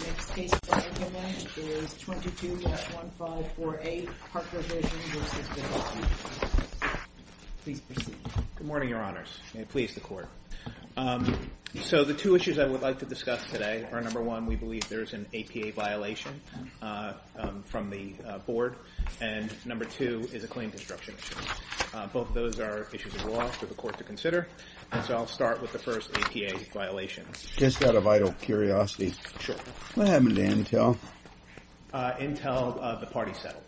The next case for argument is 22-1548, ParkerVision v. Vidal. Please proceed. Good morning, Your Honors, and please, the Court. So the two issues I would like to discuss today are, number one, we believe there is an APA violation from the Board, and number two is a claim destruction issue. Both of those are issues of law for the Court to consider, and so I'll start with the first APA violation. Just out of vital curiosity, what happened to Intel? Intel, the party settled.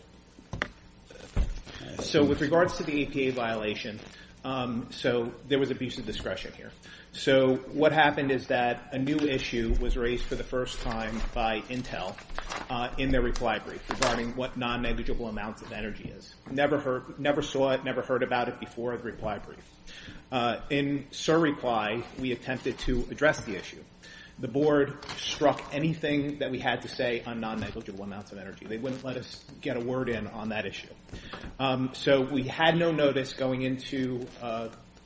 So with regards to the APA violation, there was abuse of discretion here. So what happened is that a new issue was raised for the first time by Intel in their reply brief regarding what non-negligible amounts of energy is. Never saw it, never heard about it before the reply brief. In Sir's reply, we attempted to address the issue. The Board struck anything that we had to say on non-negligible amounts of energy. They wouldn't let us get a word in on that issue. So we had no notice going into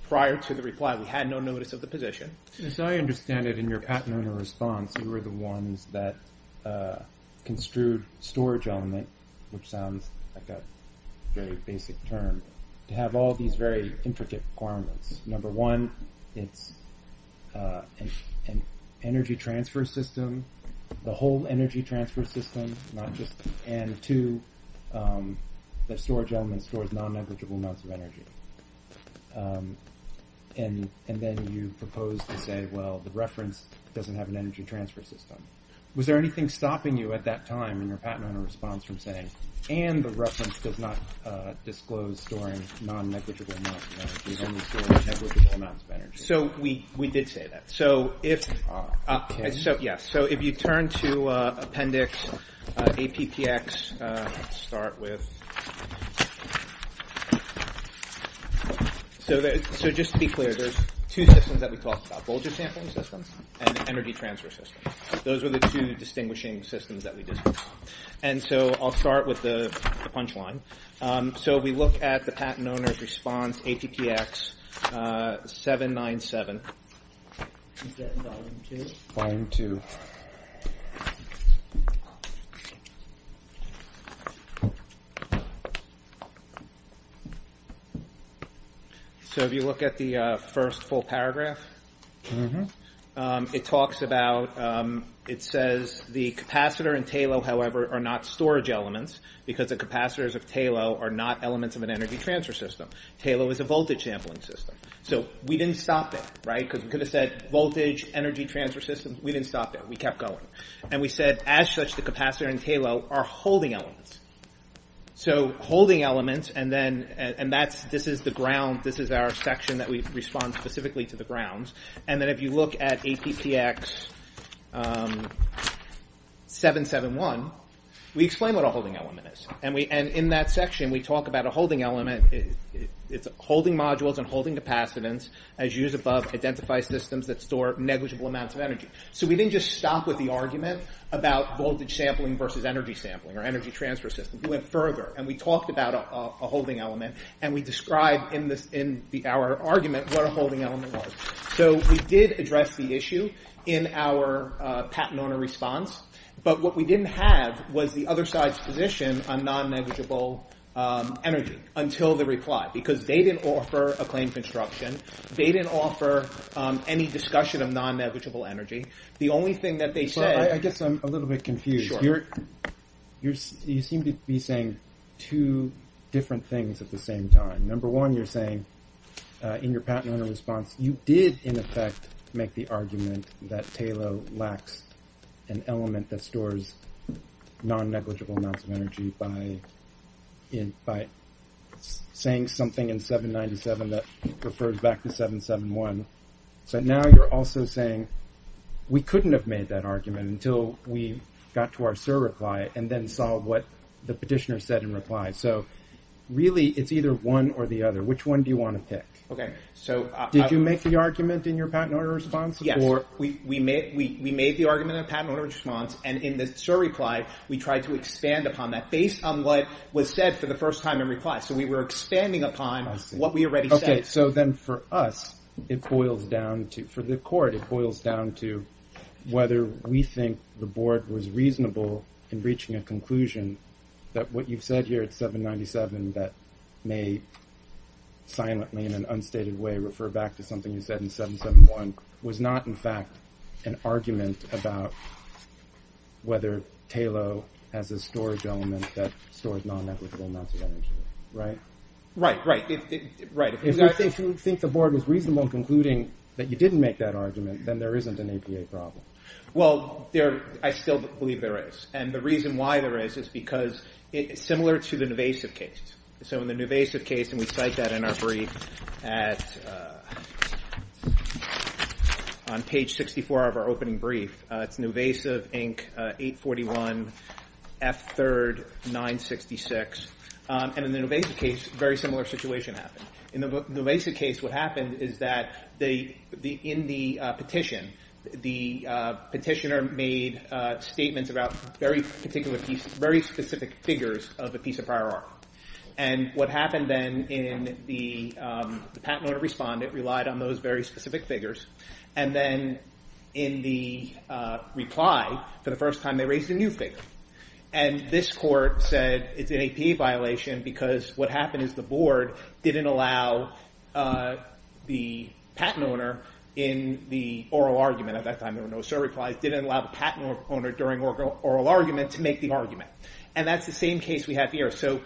prior to the reply. We had no notice of the position. As I understand it in your patented response, you were the ones that construed storage element, which sounds like a very basic term, to have all these very intricate requirements. Number one, it's an energy transfer system, the whole energy transfer system, and two, the storage element stores non-negligible amounts of energy. And then you proposed to say, well, the reference doesn't have an energy transfer system. Was there anything stopping you at that time in your patent owner response from saying, and the reference does not disclose storing non-negligible amounts of energy, only storing negligible amounts of energy? So we did say that. So if you turn to Appendix APPX, start with, so just to be clear, there's two systems that we talked about, voltage sampling systems and energy transfer systems. Those are the two distinguishing systems that we discussed. And so I'll start with the punchline. So if we look at the patent owner's response, APPX 797. So if you look at the first full paragraph, it talks about, it says, the capacitor and TALO, however, are not storage elements because the capacitors of TALO are not elements of an energy transfer system. TALO is a voltage sampling system. So we didn't stop there, right? Because we could have said voltage, energy transfer system. We didn't stop there. We kept going. And we said, as such, the capacitor and TALO are holding elements. So holding elements, and then, and that's, this is the ground, this is our section that we respond specifically to the grounds. And then if you look at APPX 771, we explain what a holding element is. And in that section, we talk about a holding element. It's holding modules and holding capacitance, as used above, identify systems that store negligible amounts of energy. So we didn't just stop with the argument about voltage sampling versus energy sampling or energy transfer system. We went further, and we talked about a holding element, and we described in our argument what a holding element was. So we did address the issue in our patent owner response. But what we didn't have was the other side's position on non-negligible energy until the reply because they didn't offer a claim construction. They didn't offer any discussion of non-negligible energy. The only thing that they said— Well, I guess I'm a little bit confused. You seem to be saying two different things at the same time. Number one, you're saying in your patent owner response, you did in effect make the argument that TALO lacks an element that stores non-negligible amounts of energy by saying something in 797 that refers back to 771. So now you're also saying we couldn't have made that argument until we got to our SIR reply and then saw what the petitioner said in reply. So really, it's either one or the other. Which one do you want to pick? Did you make the argument in your patent owner response? Yes. We made the argument in our patent owner response, and in the SIR reply, we tried to expand upon that based on what was said for the first time in reply. So we were expanding upon what we already said. Okay. So then for us, it boils down to— If you think the board was reasonable in reaching a conclusion that what you've said here at 797 that may silently, in an unstated way, refer back to something you said in 771 was not in fact an argument about whether TALO has a storage element that stores non-negligible amounts of energy, right? Right, right. If you think the board was reasonable in concluding that you didn't make that argument, then there isn't an APA problem. Well, I still believe there is. And the reason why there is is because it's similar to the Nuvasiv case. So in the Nuvasiv case, and we cite that in our brief on page 64 of our opening brief, it's Nuvasiv, Inc., 841, F3rd, 966. And in the Nuvasiv case, a very similar situation happened. In the Nuvasiv case, what happened is that in the petition, the petitioner made statements about very specific figures of a piece of prior art. And what happened then in the patent owner respondent relied on those very specific figures. And then in the reply, for the first time they raised a new figure. And this court said it's an APA violation because what happened is the board didn't allow the patent owner in the oral argument, at that time there were no survey replies, didn't allow the patent owner during oral argument to make the argument. And that's the same case we have here. So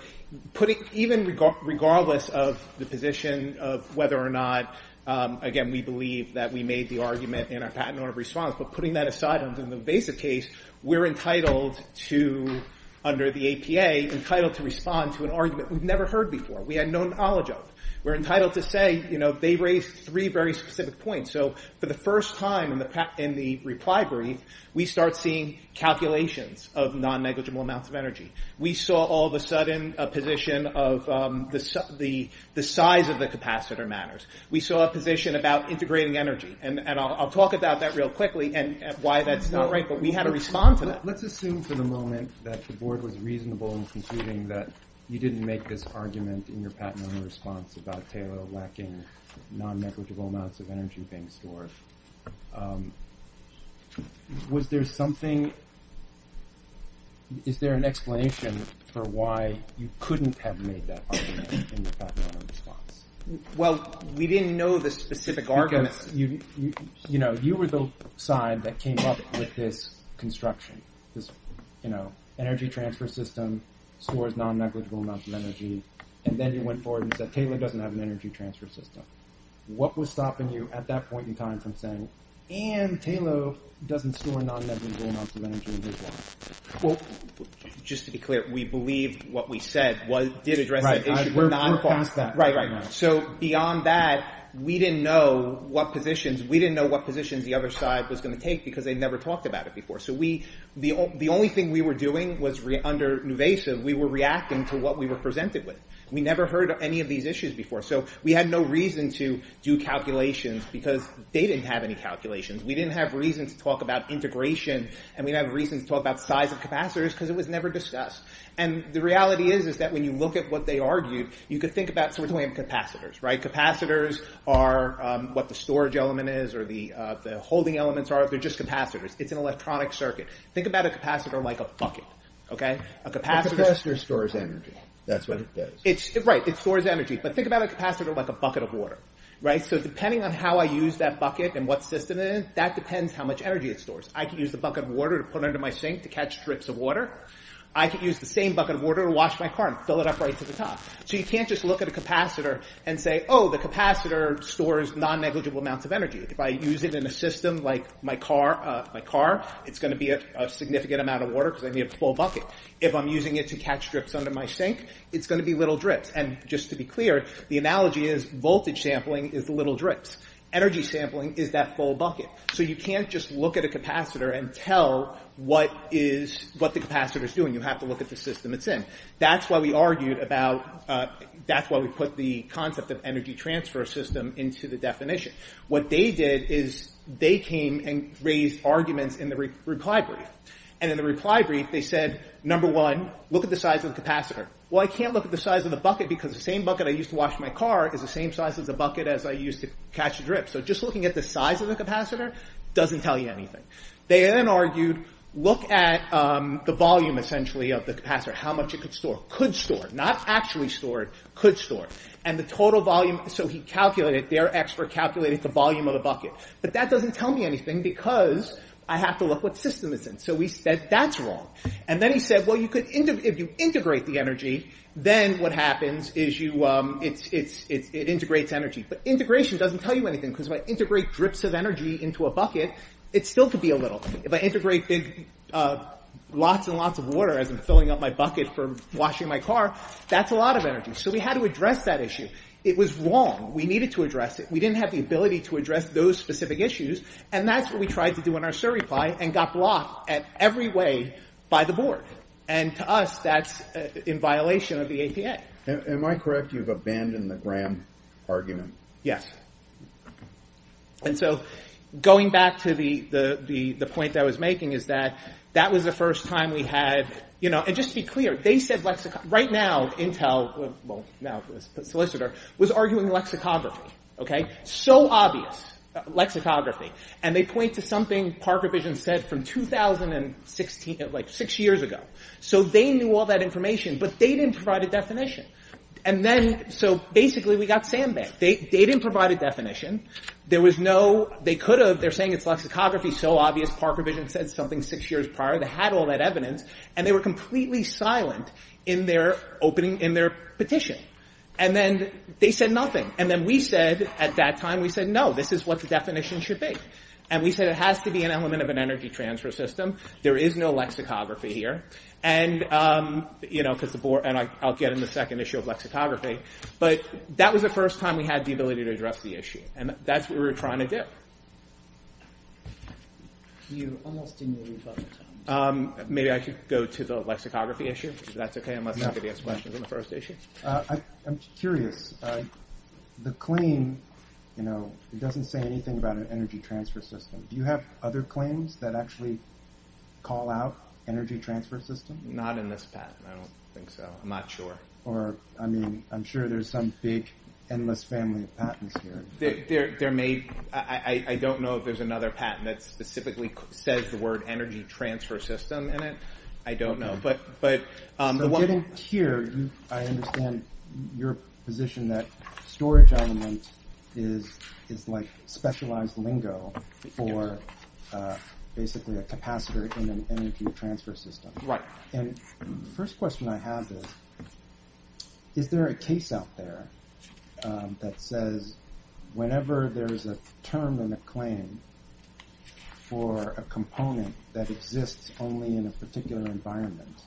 even regardless of the position of whether or not, again, we believe that we made the argument in our patent owner response, but putting that aside under the Nuvasiv case, we're entitled to, under the APA, entitled to respond to an argument that we've never heard before, we had no knowledge of. We're entitled to say, you know, they raised three very specific points. So for the first time in the reply brief, we start seeing calculations of non-negligible amounts of energy. We saw all of a sudden a position of the size of the capacitor matters. We saw a position about integrating energy. And I'll talk about that real quickly and why that's not right, but we had to respond to that. Let's assume for the moment that the board was reasonable in concluding that you didn't make this argument in your patent owner response about Taylor lacking non-negligible amounts of energy being stored. Was there something, is there an explanation for why you couldn't have made that argument in your patent owner response? Well, we didn't know the specific argument. Because, you know, you were the side that came up with this construction, this, you know, energy transfer system stores non-negligible amounts of energy. And then you went forward and said Taylor doesn't have an energy transfer system. What was stopping you at that point in time from saying, and Taylor doesn't store non-negligible amounts of energy in his law? Well, just to be clear, we believe what we said did address the issue. Right, we're past that. Right, right. So beyond that, we didn't know what positions, we didn't know what positions the other side was going to take because they never talked about it before. So we, the only thing we were doing was under Nuvesa, we were reacting to what we were presented with. We never heard any of these issues before. So we had no reason to do calculations because they didn't have any calculations. We didn't have reason to talk about integration and we didn't have reason to talk about size of capacitors because it was never discussed. And the reality is, is that when you look at what they argued, you could think about, so we're talking about capacitors, right? Capacitors are what the storage element is or the holding elements are. They're just capacitors. It's an electronic circuit. Think about a capacitor like a bucket, okay? A capacitor stores energy. That's what it does. Right, it stores energy. But think about a capacitor like a bucket of water, right? So depending on how I use that bucket and what system it is, that depends how much energy it stores. I could use the bucket of water to put under my sink to catch drips of water. I could use the same bucket of water to wash my car and fill it up right to the top. So you can't just look at a capacitor and say, oh, the capacitor stores non-negligible amounts of energy. If I use it in a system like my car, it's going to be a significant amount of water because I need a full bucket. If I'm using it to catch drips under my sink, it's going to be little drips. And just to be clear, the analogy is voltage sampling is the little drips. Energy sampling is that full bucket. So you can't just look at a capacitor and tell what the capacitor is doing. You have to look at the system it's in. That's why we argued about – that's why we put the concept of energy transfer system into the definition. What they did is they came and raised arguments in the reply brief. And in the reply brief, they said, number one, look at the size of the capacitor. Well, I can't look at the size of the bucket because the same bucket I used to wash my car is the same size of the bucket as I used to catch drips. So just looking at the size of the capacitor doesn't tell you anything. They then argued, look at the volume essentially of the capacitor, how much it could store – could store, not actually store, could store. And the total volume – so he calculated – their expert calculated the volume of the bucket. But that doesn't tell me anything because I have to look what the system is in. So we said that's wrong. And then he said, well, you could – if you integrate the energy, then what happens is you – it integrates energy. But integration doesn't tell you anything because if I integrate drips of energy into a bucket, it still could be a little. If I integrate lots and lots of water as I'm filling up my bucket for washing my car, that's a lot of energy. So we had to address that issue. It was wrong. We needed to address it. We didn't have the ability to address those specific issues. And that's what we tried to do in our SIR reply and got blocked at every way by the board. And to us, that's in violation of the APA. Am I correct? You've abandoned the Graham argument? Yes. And so going back to the point that I was making is that that was the first time we had – right now Intel, well, now the solicitor, was arguing lexicography. So obvious, lexicography. And they point to something Parker Vision said from 2016, like six years ago. So they knew all that information, but they didn't provide a definition. And then – so basically we got sandbagged. They didn't provide a definition. There was no – they could have. They're saying it's lexicography. So obvious. Parker Vision said something six years prior. They had all that evidence. And they were completely silent in their opening – in their petition. And then they said nothing. And then we said – at that time we said, no, this is what the definition should be. And we said it has to be an element of an energy transfer system. There is no lexicography here. And, you know, because the board – and I'll get in the second issue of lexicography. But that was the first time we had the ability to address the issue. And that's what we were trying to do. You almost didn't believe us at the time. Maybe I could go to the lexicography issue, if that's okay, unless somebody has questions on the first issue. I'm curious. The claim, you know, it doesn't say anything about an energy transfer system. Do you have other claims that actually call out energy transfer systems? Not in this patent. I don't think so. I'm not sure. Or, I mean, I'm sure there's some big endless family of patents here. There may – I don't know if there's another patent that specifically says the word energy transfer system in it. I don't know. So getting here, I understand your position that storage element is like specialized lingo for basically a capacitor in an energy transfer system. Right. And the first question I have is, is there a case out there that says whenever there's a term in a claim for a component that exists only in a particular environment,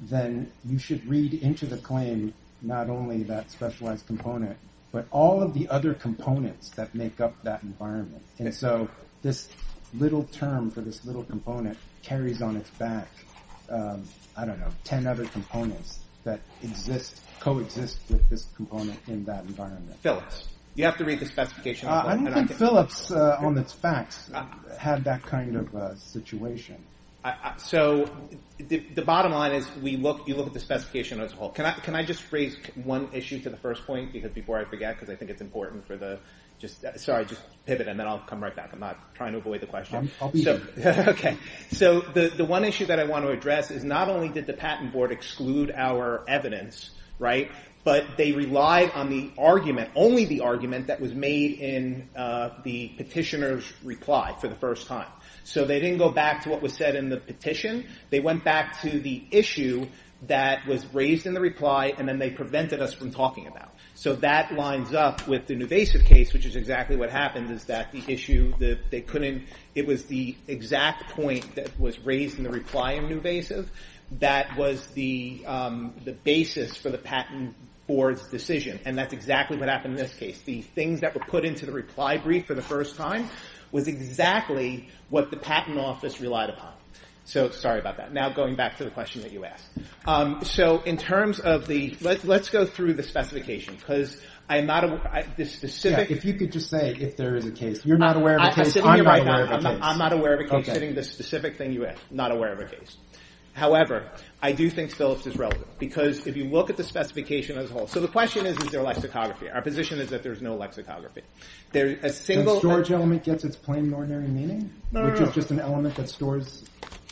then you should read into the claim not only that specialized component, but all of the other components that make up that environment. And so this little term for this little component carries on its back, I don't know, 10 other components that exist, coexist with this component in that environment. Phillips. You have to read the specification. I don't think Phillips on its facts had that kind of situation. So the bottom line is you look at the specification as a whole. Can I just raise one issue to the first point? Because before I forget, because I think it's important for the – sorry, just pivot, and then I'll come right back. I'm not trying to avoid the question. I'll be here. Okay. So the one issue that I want to address is not only did the Patent Board exclude our evidence, right, but they relied on the argument, only the argument that was made in the petitioner's reply for the first time. So they didn't go back to what was said in the petition. They went back to the issue that was raised in the reply, and then they prevented us from talking about it. So that lines up with the Nuvasiv case, which is exactly what happened, is that the issue that they couldn't – it was the exact point that was raised in the reply in Nuvasiv that was the basis for the Patent Board's decision, and that's exactly what happened in this case. The things that were put into the reply brief for the first time was exactly what the Patent Office relied upon. So sorry about that. Now going back to the question that you asked. So in terms of the – let's go through the specification, because I am not – this specific – I'm not aware of a case. You're not aware of a case. I'm not aware of a case. I'm not aware of a case, sitting in this specific thing you asked. I'm not aware of a case. However, I do think Phillips is relevant because if you look at the specification as a whole – so the question is, is there lexicography? Our position is that there is no lexicography. There is a single – The storage element gets its plain and ordinary meaning, which is just an element that stores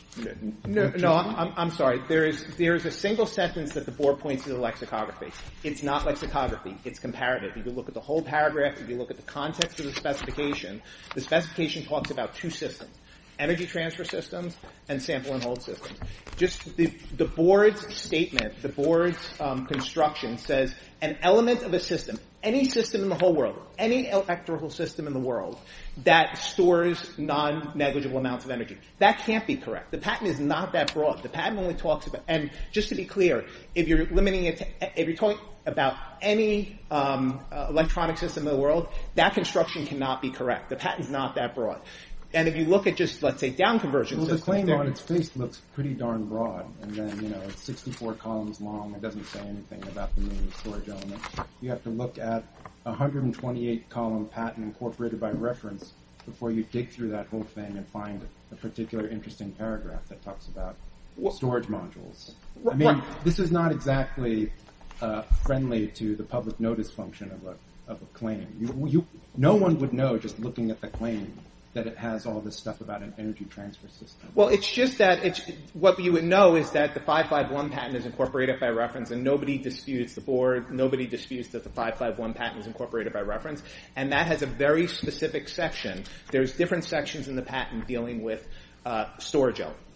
– No, I'm sorry. There is a single sentence that the Board points to the lexicography. It's not lexicography. It's comparative. If you look at the whole paragraph, if you look at the context of the specification, the specification talks about two systems – energy transfer systems and sample-and-hold systems. Just the Board's statement, the Board's construction, says an element of a system – any system in the whole world, any electrical system in the world that stores non-negligible amounts of energy. That can't be correct. The patent is not that broad. The patent only talks about – and just to be clear, if you're limiting it to – that construction cannot be correct. The patent is not that broad. And if you look at just, let's say, down-conversion systems – Well, the claim on its face looks pretty darn broad. And then it's 64 columns long. It doesn't say anything about the storage element. You have to look at 128-column patent incorporated by reference before you dig through that whole thing and find a particular interesting paragraph that talks about storage modules. I mean, this is not exactly friendly to the public notice function of a claim. No one would know, just looking at the claim, that it has all this stuff about an energy transfer system. Well, it's just that – what you would know is that the 551 patent is incorporated by reference, and nobody disputes the Board. Nobody disputes that the 551 patent is incorporated by reference. And that has a very specific section. There's different sections in the patent dealing with storage elements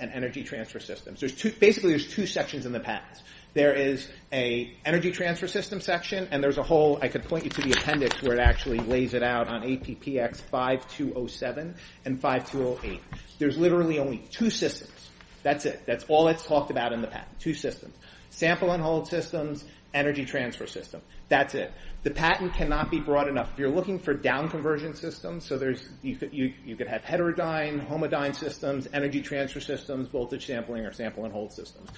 and energy transfer systems. Basically, there's two sections in the patent. There is an energy transfer system section, and there's a whole – I could point you to the appendix where it actually lays it out on APPX 5207 and 5208. There's literally only two systems. That's it. That's all that's talked about in the patent. Two systems. Sample and hold systems, energy transfer system. That's it. The patent cannot be broad enough. If you're looking for down-conversion systems, you could have heterodyne, homodyne systems, energy transfer systems, voltage sampling, or sample and hold systems.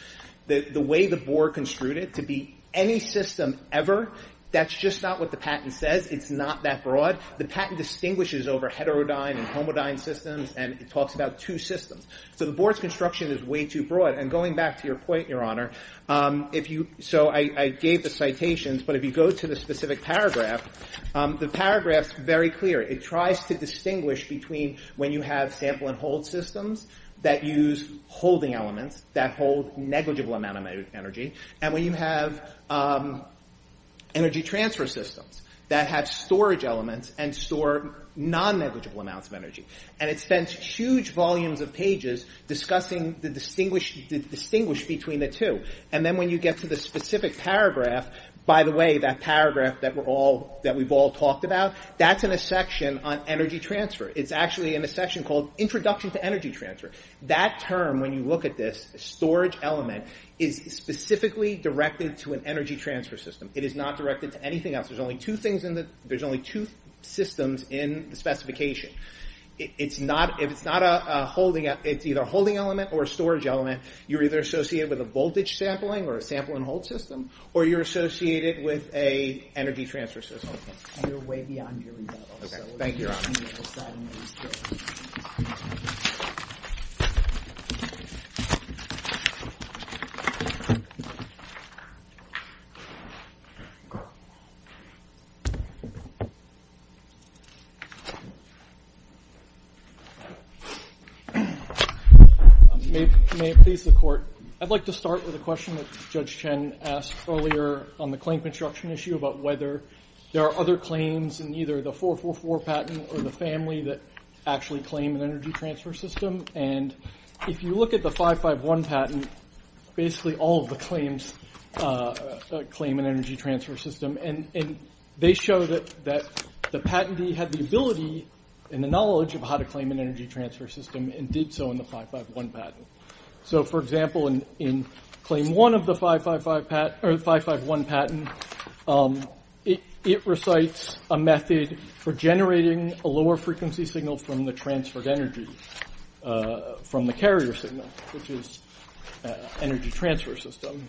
The way the Board construed it, to be any system ever, that's just not what the patent says. It's not that broad. The patent distinguishes over heterodyne and homodyne systems, and it talks about two systems. So the Board's construction is way too broad. And going back to your point, Your Honor, if you – so I gave the citations, but if you go to the specific paragraph, the paragraph's very clear. It tries to distinguish between when you have sample and hold systems that use holding elements that hold negligible amount of energy, and when you have energy transfer systems that have storage elements and store non-negligible amounts of energy. And it spends huge volumes of pages discussing the distinguish between the two. And then when you get to the specific paragraph, by the way, that paragraph that we've all talked about, that's in a section on energy transfer. It's actually in a section called Introduction to Energy Transfer. That term, when you look at this, storage element is specifically directed to an energy transfer system. It is not directed to anything else. There's only two things in the – there's only two systems in the specification. It's not – if it's not a holding – it's either a holding element or a storage element, you're either associated with a voltage sampling or a sample and hold system, or you're associated with an energy transfer system. And you're way beyond your rebuttal. Okay. Thank you, Your Honor. Thank you. May it please the Court, I'd like to start with a question that Judge Chen asked earlier on the claim construction issue about whether there are other claims in either the 444 patent or the family that actually claim an energy transfer system. And if you look at the 551 patent, basically all of the claims claim an energy transfer system. And they show that the patentee had the ability and the knowledge of how to claim an energy transfer system and did so in the 551 patent. So, for example, in claim one of the 551 patent, it recites a method for generating a lower frequency signal from the transferred energy from the carrier signal, which is an energy transfer system.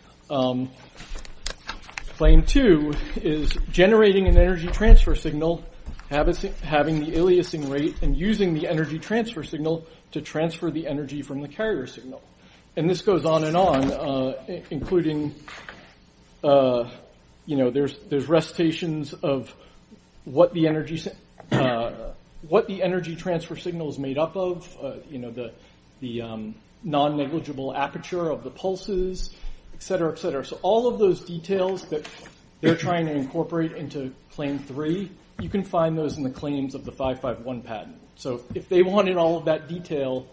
Claim two is generating an energy transfer signal, having the aliasing rate, and using the energy transfer signal to transfer the energy from the carrier signal. And this goes on and on, including, you know, there's recitations of what the energy transfer signal is made up of, you know, the non-negligible aperture of the pulses, etc., etc. So all of those details that they're trying to incorporate into claim three, you can find those in the claims of the 551 patent. So if they wanted all of that detail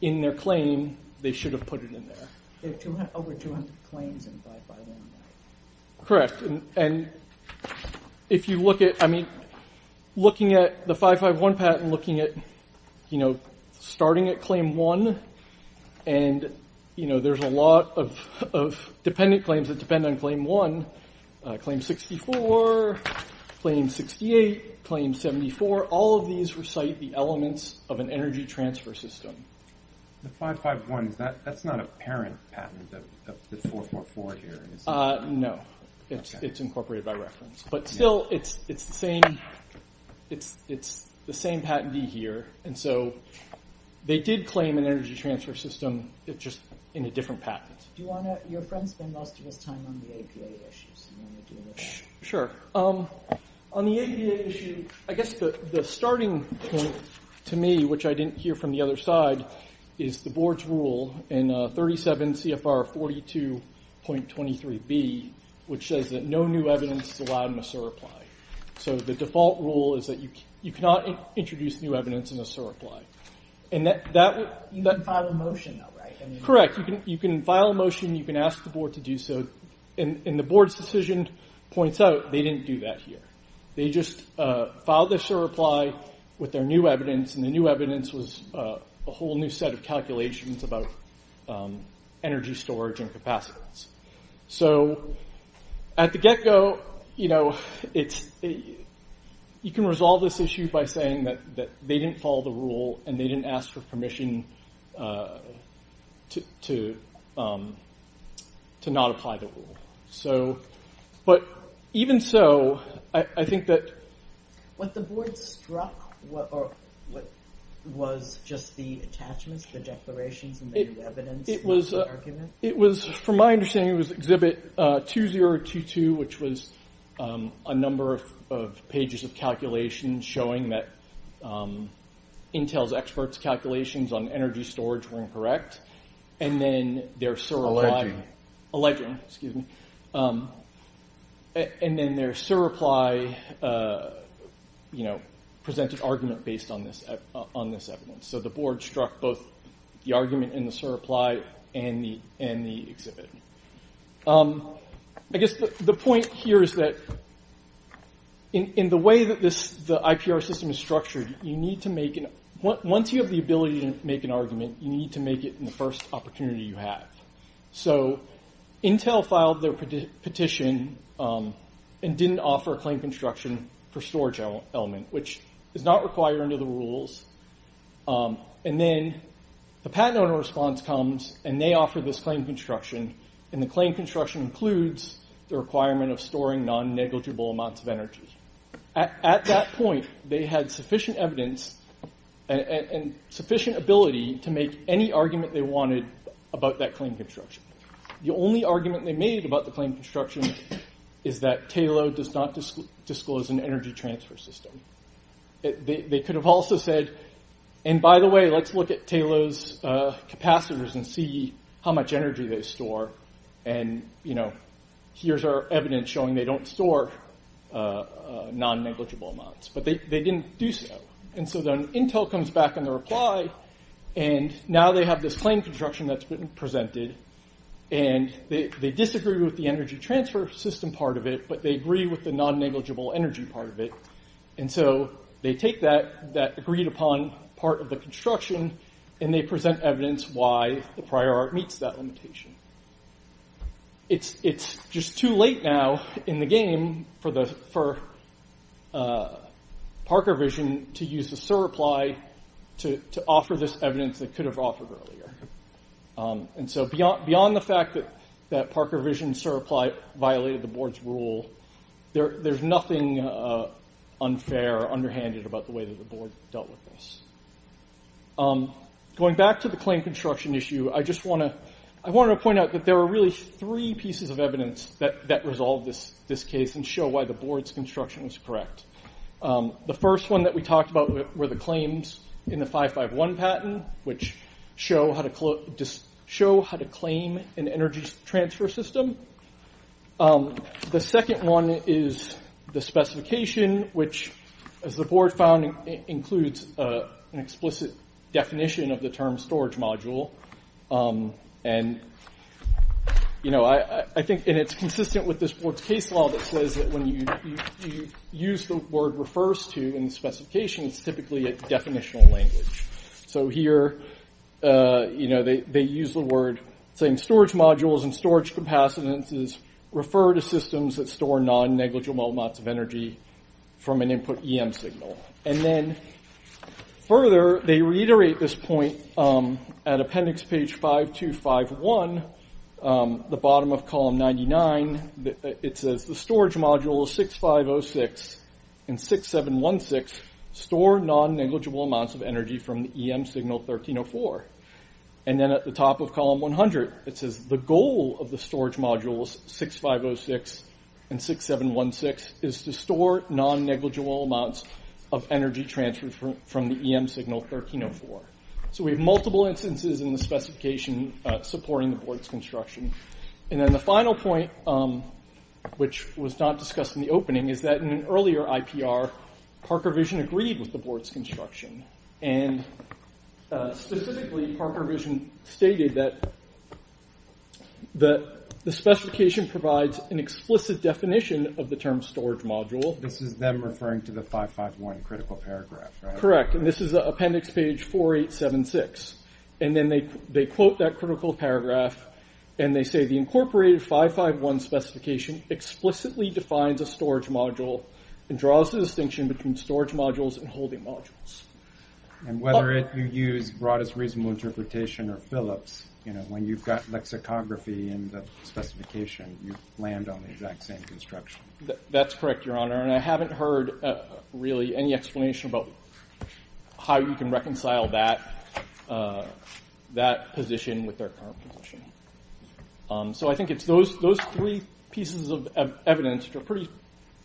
in their claim, they should have put it in there. There are over 200 claims in 551, right? Correct. And if you look at, I mean, looking at the 551 patent, looking at, you know, starting at claim one, and, you know, there's a lot of dependent claims that depend on claim one, claim 64, claim 68, claim 74. All of these recite the elements of an energy transfer system. The 551, that's not a parent patent of the 444 here, is it? No. It's incorporated by reference. But still, it's the same patentee here. And so they did claim an energy transfer system, it's just in a different patent. Do you want to—your friend spent most of his time on the APA issues. Do you want to do it again? Sure. On the APA issue, I guess the starting point to me, which I didn't hear from the other side, is the board's rule in 37 CFR 42.23B, which says that no new evidence is allowed in a SIR reply. So the default rule is that you cannot introduce new evidence in a SIR reply. You can file a motion, though, right? Correct. You can file a motion, you can ask the board to do so, and the board's decision points out they didn't do that here. They just filed a SIR reply with their new evidence, and the new evidence was a whole new set of calculations about energy storage and capacitance. So at the get-go, you know, it's—you can resolve this issue by saying that they didn't follow the rule and they didn't ask for permission to not apply the rule. So—but even so, I think that— So what struck—or what was just the attachments, the declarations, and the new evidence was the argument? It was—from my understanding, it was Exhibit 2022, which was a number of pages of calculations showing that Intel's experts' calculations on energy storage were incorrect, and then their SIR reply— Alleging. Alleging, excuse me. And then their SIR reply, you know, presented argument based on this evidence. So the board struck both the argument in the SIR reply and the exhibit. I guess the point here is that in the way that this—the IPR system is structured, you need to make an—once you have the ability to make an argument, you need to make it in the first opportunity you have. So Intel filed their petition and didn't offer a claim construction for storage element, which is not required under the rules. And then the patent owner response comes and they offer this claim construction, and the claim construction includes the requirement of storing non-negligible amounts of energy. At that point, they had sufficient evidence and sufficient ability to make any argument they wanted about that claim construction. The only argument they made about the claim construction is that TALO does not disclose an energy transfer system. They could have also said, and by the way, let's look at TALO's capacitors and see how much energy they store, and, you know, here's our evidence showing they don't store non-negligible amounts. But they didn't do so. And so then Intel comes back in their reply, and now they have this claim construction that's been presented, and they disagree with the energy transfer system part of it, but they agree with the non-negligible energy part of it. And so they take that agreed upon part of the construction, and they present evidence why the prior art meets that limitation. It's just too late now in the game for Parker Vision to use the SIR reply to offer this evidence they could have offered earlier. And so beyond the fact that Parker Vision's SIR reply violated the board's rule, there's nothing unfair or underhanded about the way that the board dealt with this. Going back to the claim construction issue, I just want to point out that there are really three pieces of evidence that resolve this case and show why the board's construction was correct. The first one that we talked about were the claims in the 551 patent, which show how to claim an energy transfer system. The second one is the specification, which, as the board found, includes an explicit definition of the term storage module. And, you know, I think it's consistent with this board's case law that says that when you use the word refers to in the specification, it's typically a definitional language. So here, you know, they use the word saying storage modules and storage capacitances refer to systems that store non-negligible amounts of energy from an input EM signal. And then further, they reiterate this point at appendix page 5251, the bottom of column 99. It says the storage modules 6506 and 6716 store non-negligible amounts of energy from the EM signal 1304. And then at the top of column 100, it says the goal of the storage modules 6506 and 6716 is to store non-negligible amounts of energy transfer from the EM signal 1304. So we have multiple instances in the specification supporting the board's construction. And then the final point, which was not discussed in the opening, is that in an earlier IPR, Parker Vision agreed with the board's construction. And specifically, Parker Vision stated that the specification provides an explicit definition of the term storage module. This is them referring to the 551 critical paragraph, right? Correct, and this is appendix page 4876. And then they quote that critical paragraph, and they say, the incorporated 551 specification explicitly defines a storage module and draws the distinction between storage modules and holding modules. And whether you use broadest reasonable interpretation or Phillips, you know, when you've got lexicography in the specification, you land on the exact same construction. That's correct, Your Honor, and I haven't heard really any explanation about how you can reconcile that position with their current position. So I think it's those three pieces of evidence which are pretty,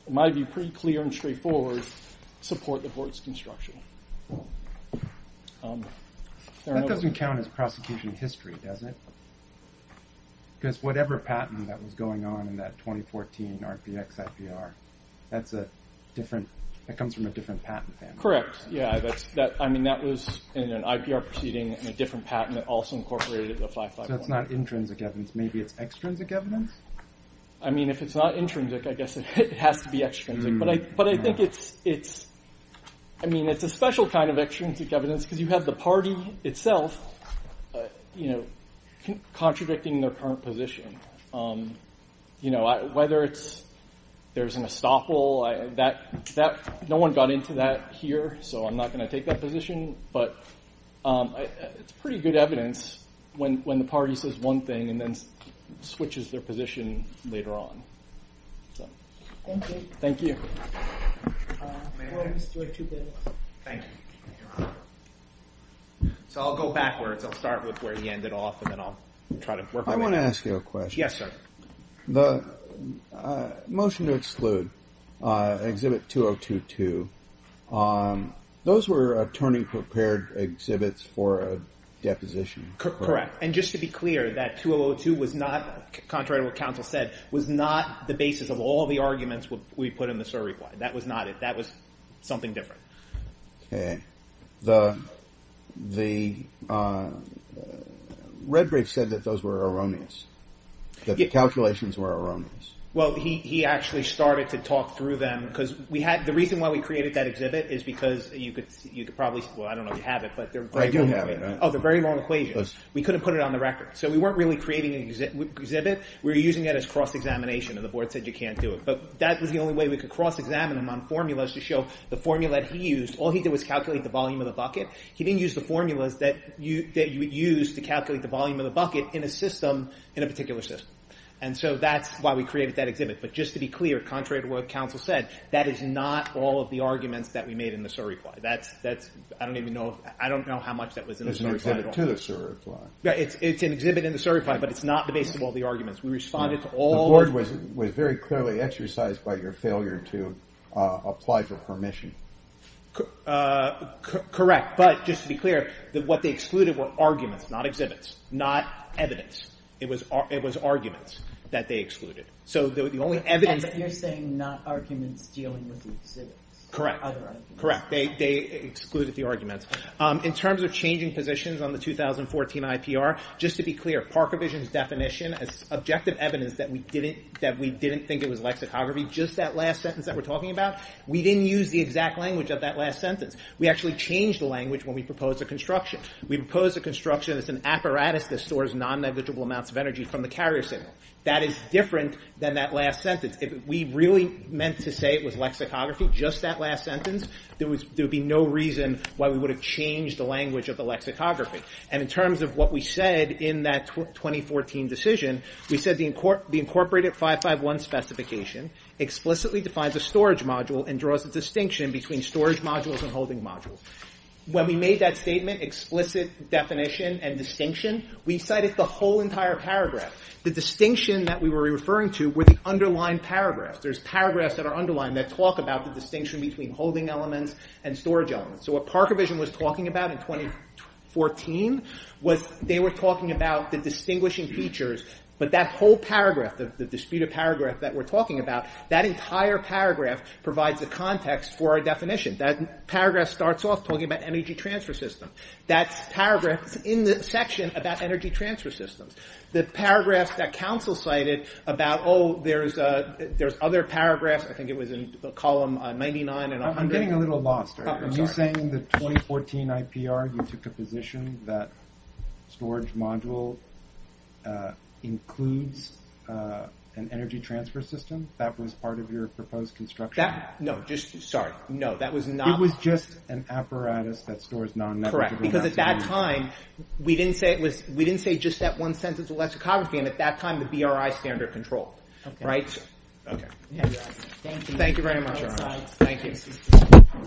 in my view, pretty clear and straightforward support the board's construction. That doesn't count as prosecution history, does it? Because whatever patent that was going on in that 2014 RPX IPR, that comes from a different patent family. Correct. Yeah, I mean, that was in an IPR proceeding and a different patent that also incorporated the 551. So it's not intrinsic evidence. Maybe it's extrinsic evidence? I mean, if it's not intrinsic, I guess it has to be extrinsic. But I think it's a special kind of extrinsic evidence because you have the party itself contradicting their current position. Whether there's an estoppel, no one got into that here, so I'm not going to take that position. But it's pretty good evidence when the party says one thing and then switches their position later on. Thank you. So I'll go backwards. I'll start with where he ended off and then I'll try to work my way through. I want to ask you a question. Yes, sir. The motion to exclude, Exhibit 2022, those were attorney-prepared exhibits for a deposition. Correct. And just to be clear, that 2002 was not, contrary to what counsel said, was not the basis of all the arguments we put in the surreply. That was not it. That was something different. Okay. The Redbridge said that those were erroneous, that the calculations were erroneous. Well, he actually started to talk through them because the reason why we created that exhibit is because you could probably, well, I don't know if you have it, but they're very long equations. I do have it. Oh, they're very long equations. We couldn't put it on the record. So we weren't really creating an exhibit. We were using it as cross-examination, and the board said you can't do it. But that was the only way we could cross-examine them on formulas to show the formula that he used. All he did was calculate the volume of the bucket. He didn't use the formulas that you would use to calculate the volume of the bucket in a system, in a particular system. And so that's why we created that exhibit. But just to be clear, contrary to what counsel said, that is not all of the arguments that we made in the surreply. That's – I don't even know – I don't know how much that was in the surreply at all. It's an exhibit to the surreply. It's an exhibit in the surreply, but it's not the basis of all the arguments. We responded to all the – The board was very clearly exercised by your failure to apply for permission. Correct. But just to be clear, what they excluded were arguments, not exhibits, not evidence. It was arguments that they excluded. So the only evidence – But you're saying not arguments dealing with the exhibits. Correct. Other arguments. Correct. They excluded the arguments. In terms of changing positions on the 2014 IPR, just to be clear, Parkovision's definition as objective evidence that we didn't think it was lexicography, just that last sentence that we're talking about, we didn't use the exact language of that last sentence. We actually changed the language when we proposed the construction. We proposed a construction that's an apparatus that stores non-negligible amounts of energy from the carrier signal. That is different than that last sentence. If we really meant to say it was lexicography, just that last sentence, there would be no reason why we would have changed the language of the lexicography. And in terms of what we said in that 2014 decision, we said the incorporated 551 specification explicitly defines a storage module and draws a distinction between storage modules and holding modules. When we made that statement, explicit definition and distinction, we cited the whole entire paragraph. The distinction that we were referring to were the underlying paragraphs. There's paragraphs that are underlined that talk about the distinction between holding elements and storage elements. So what Park Revision was talking about in 2014 was they were talking about the distinguishing features, but that whole paragraph, the disputed paragraph that we're talking about, that entire paragraph provides the context for our definition. That paragraph starts off talking about energy transfer systems. That paragraph is in the section about energy transfer systems. The paragraphs that council cited about, oh, there's other paragraphs, I think it was in column 99 and 100. I'm getting a little lost. Are you saying in the 2014 IPR, you took a position that storage module includes an energy transfer system? That was part of your proposed construction? No, just, sorry, no, that was not. It was just an apparatus that stores non-network. Correct, because at that time, we didn't say it was, we didn't say just that one sentence of lexicography. And at that time, the BRI standard control, right? Okay. Thank you very much. Thank you.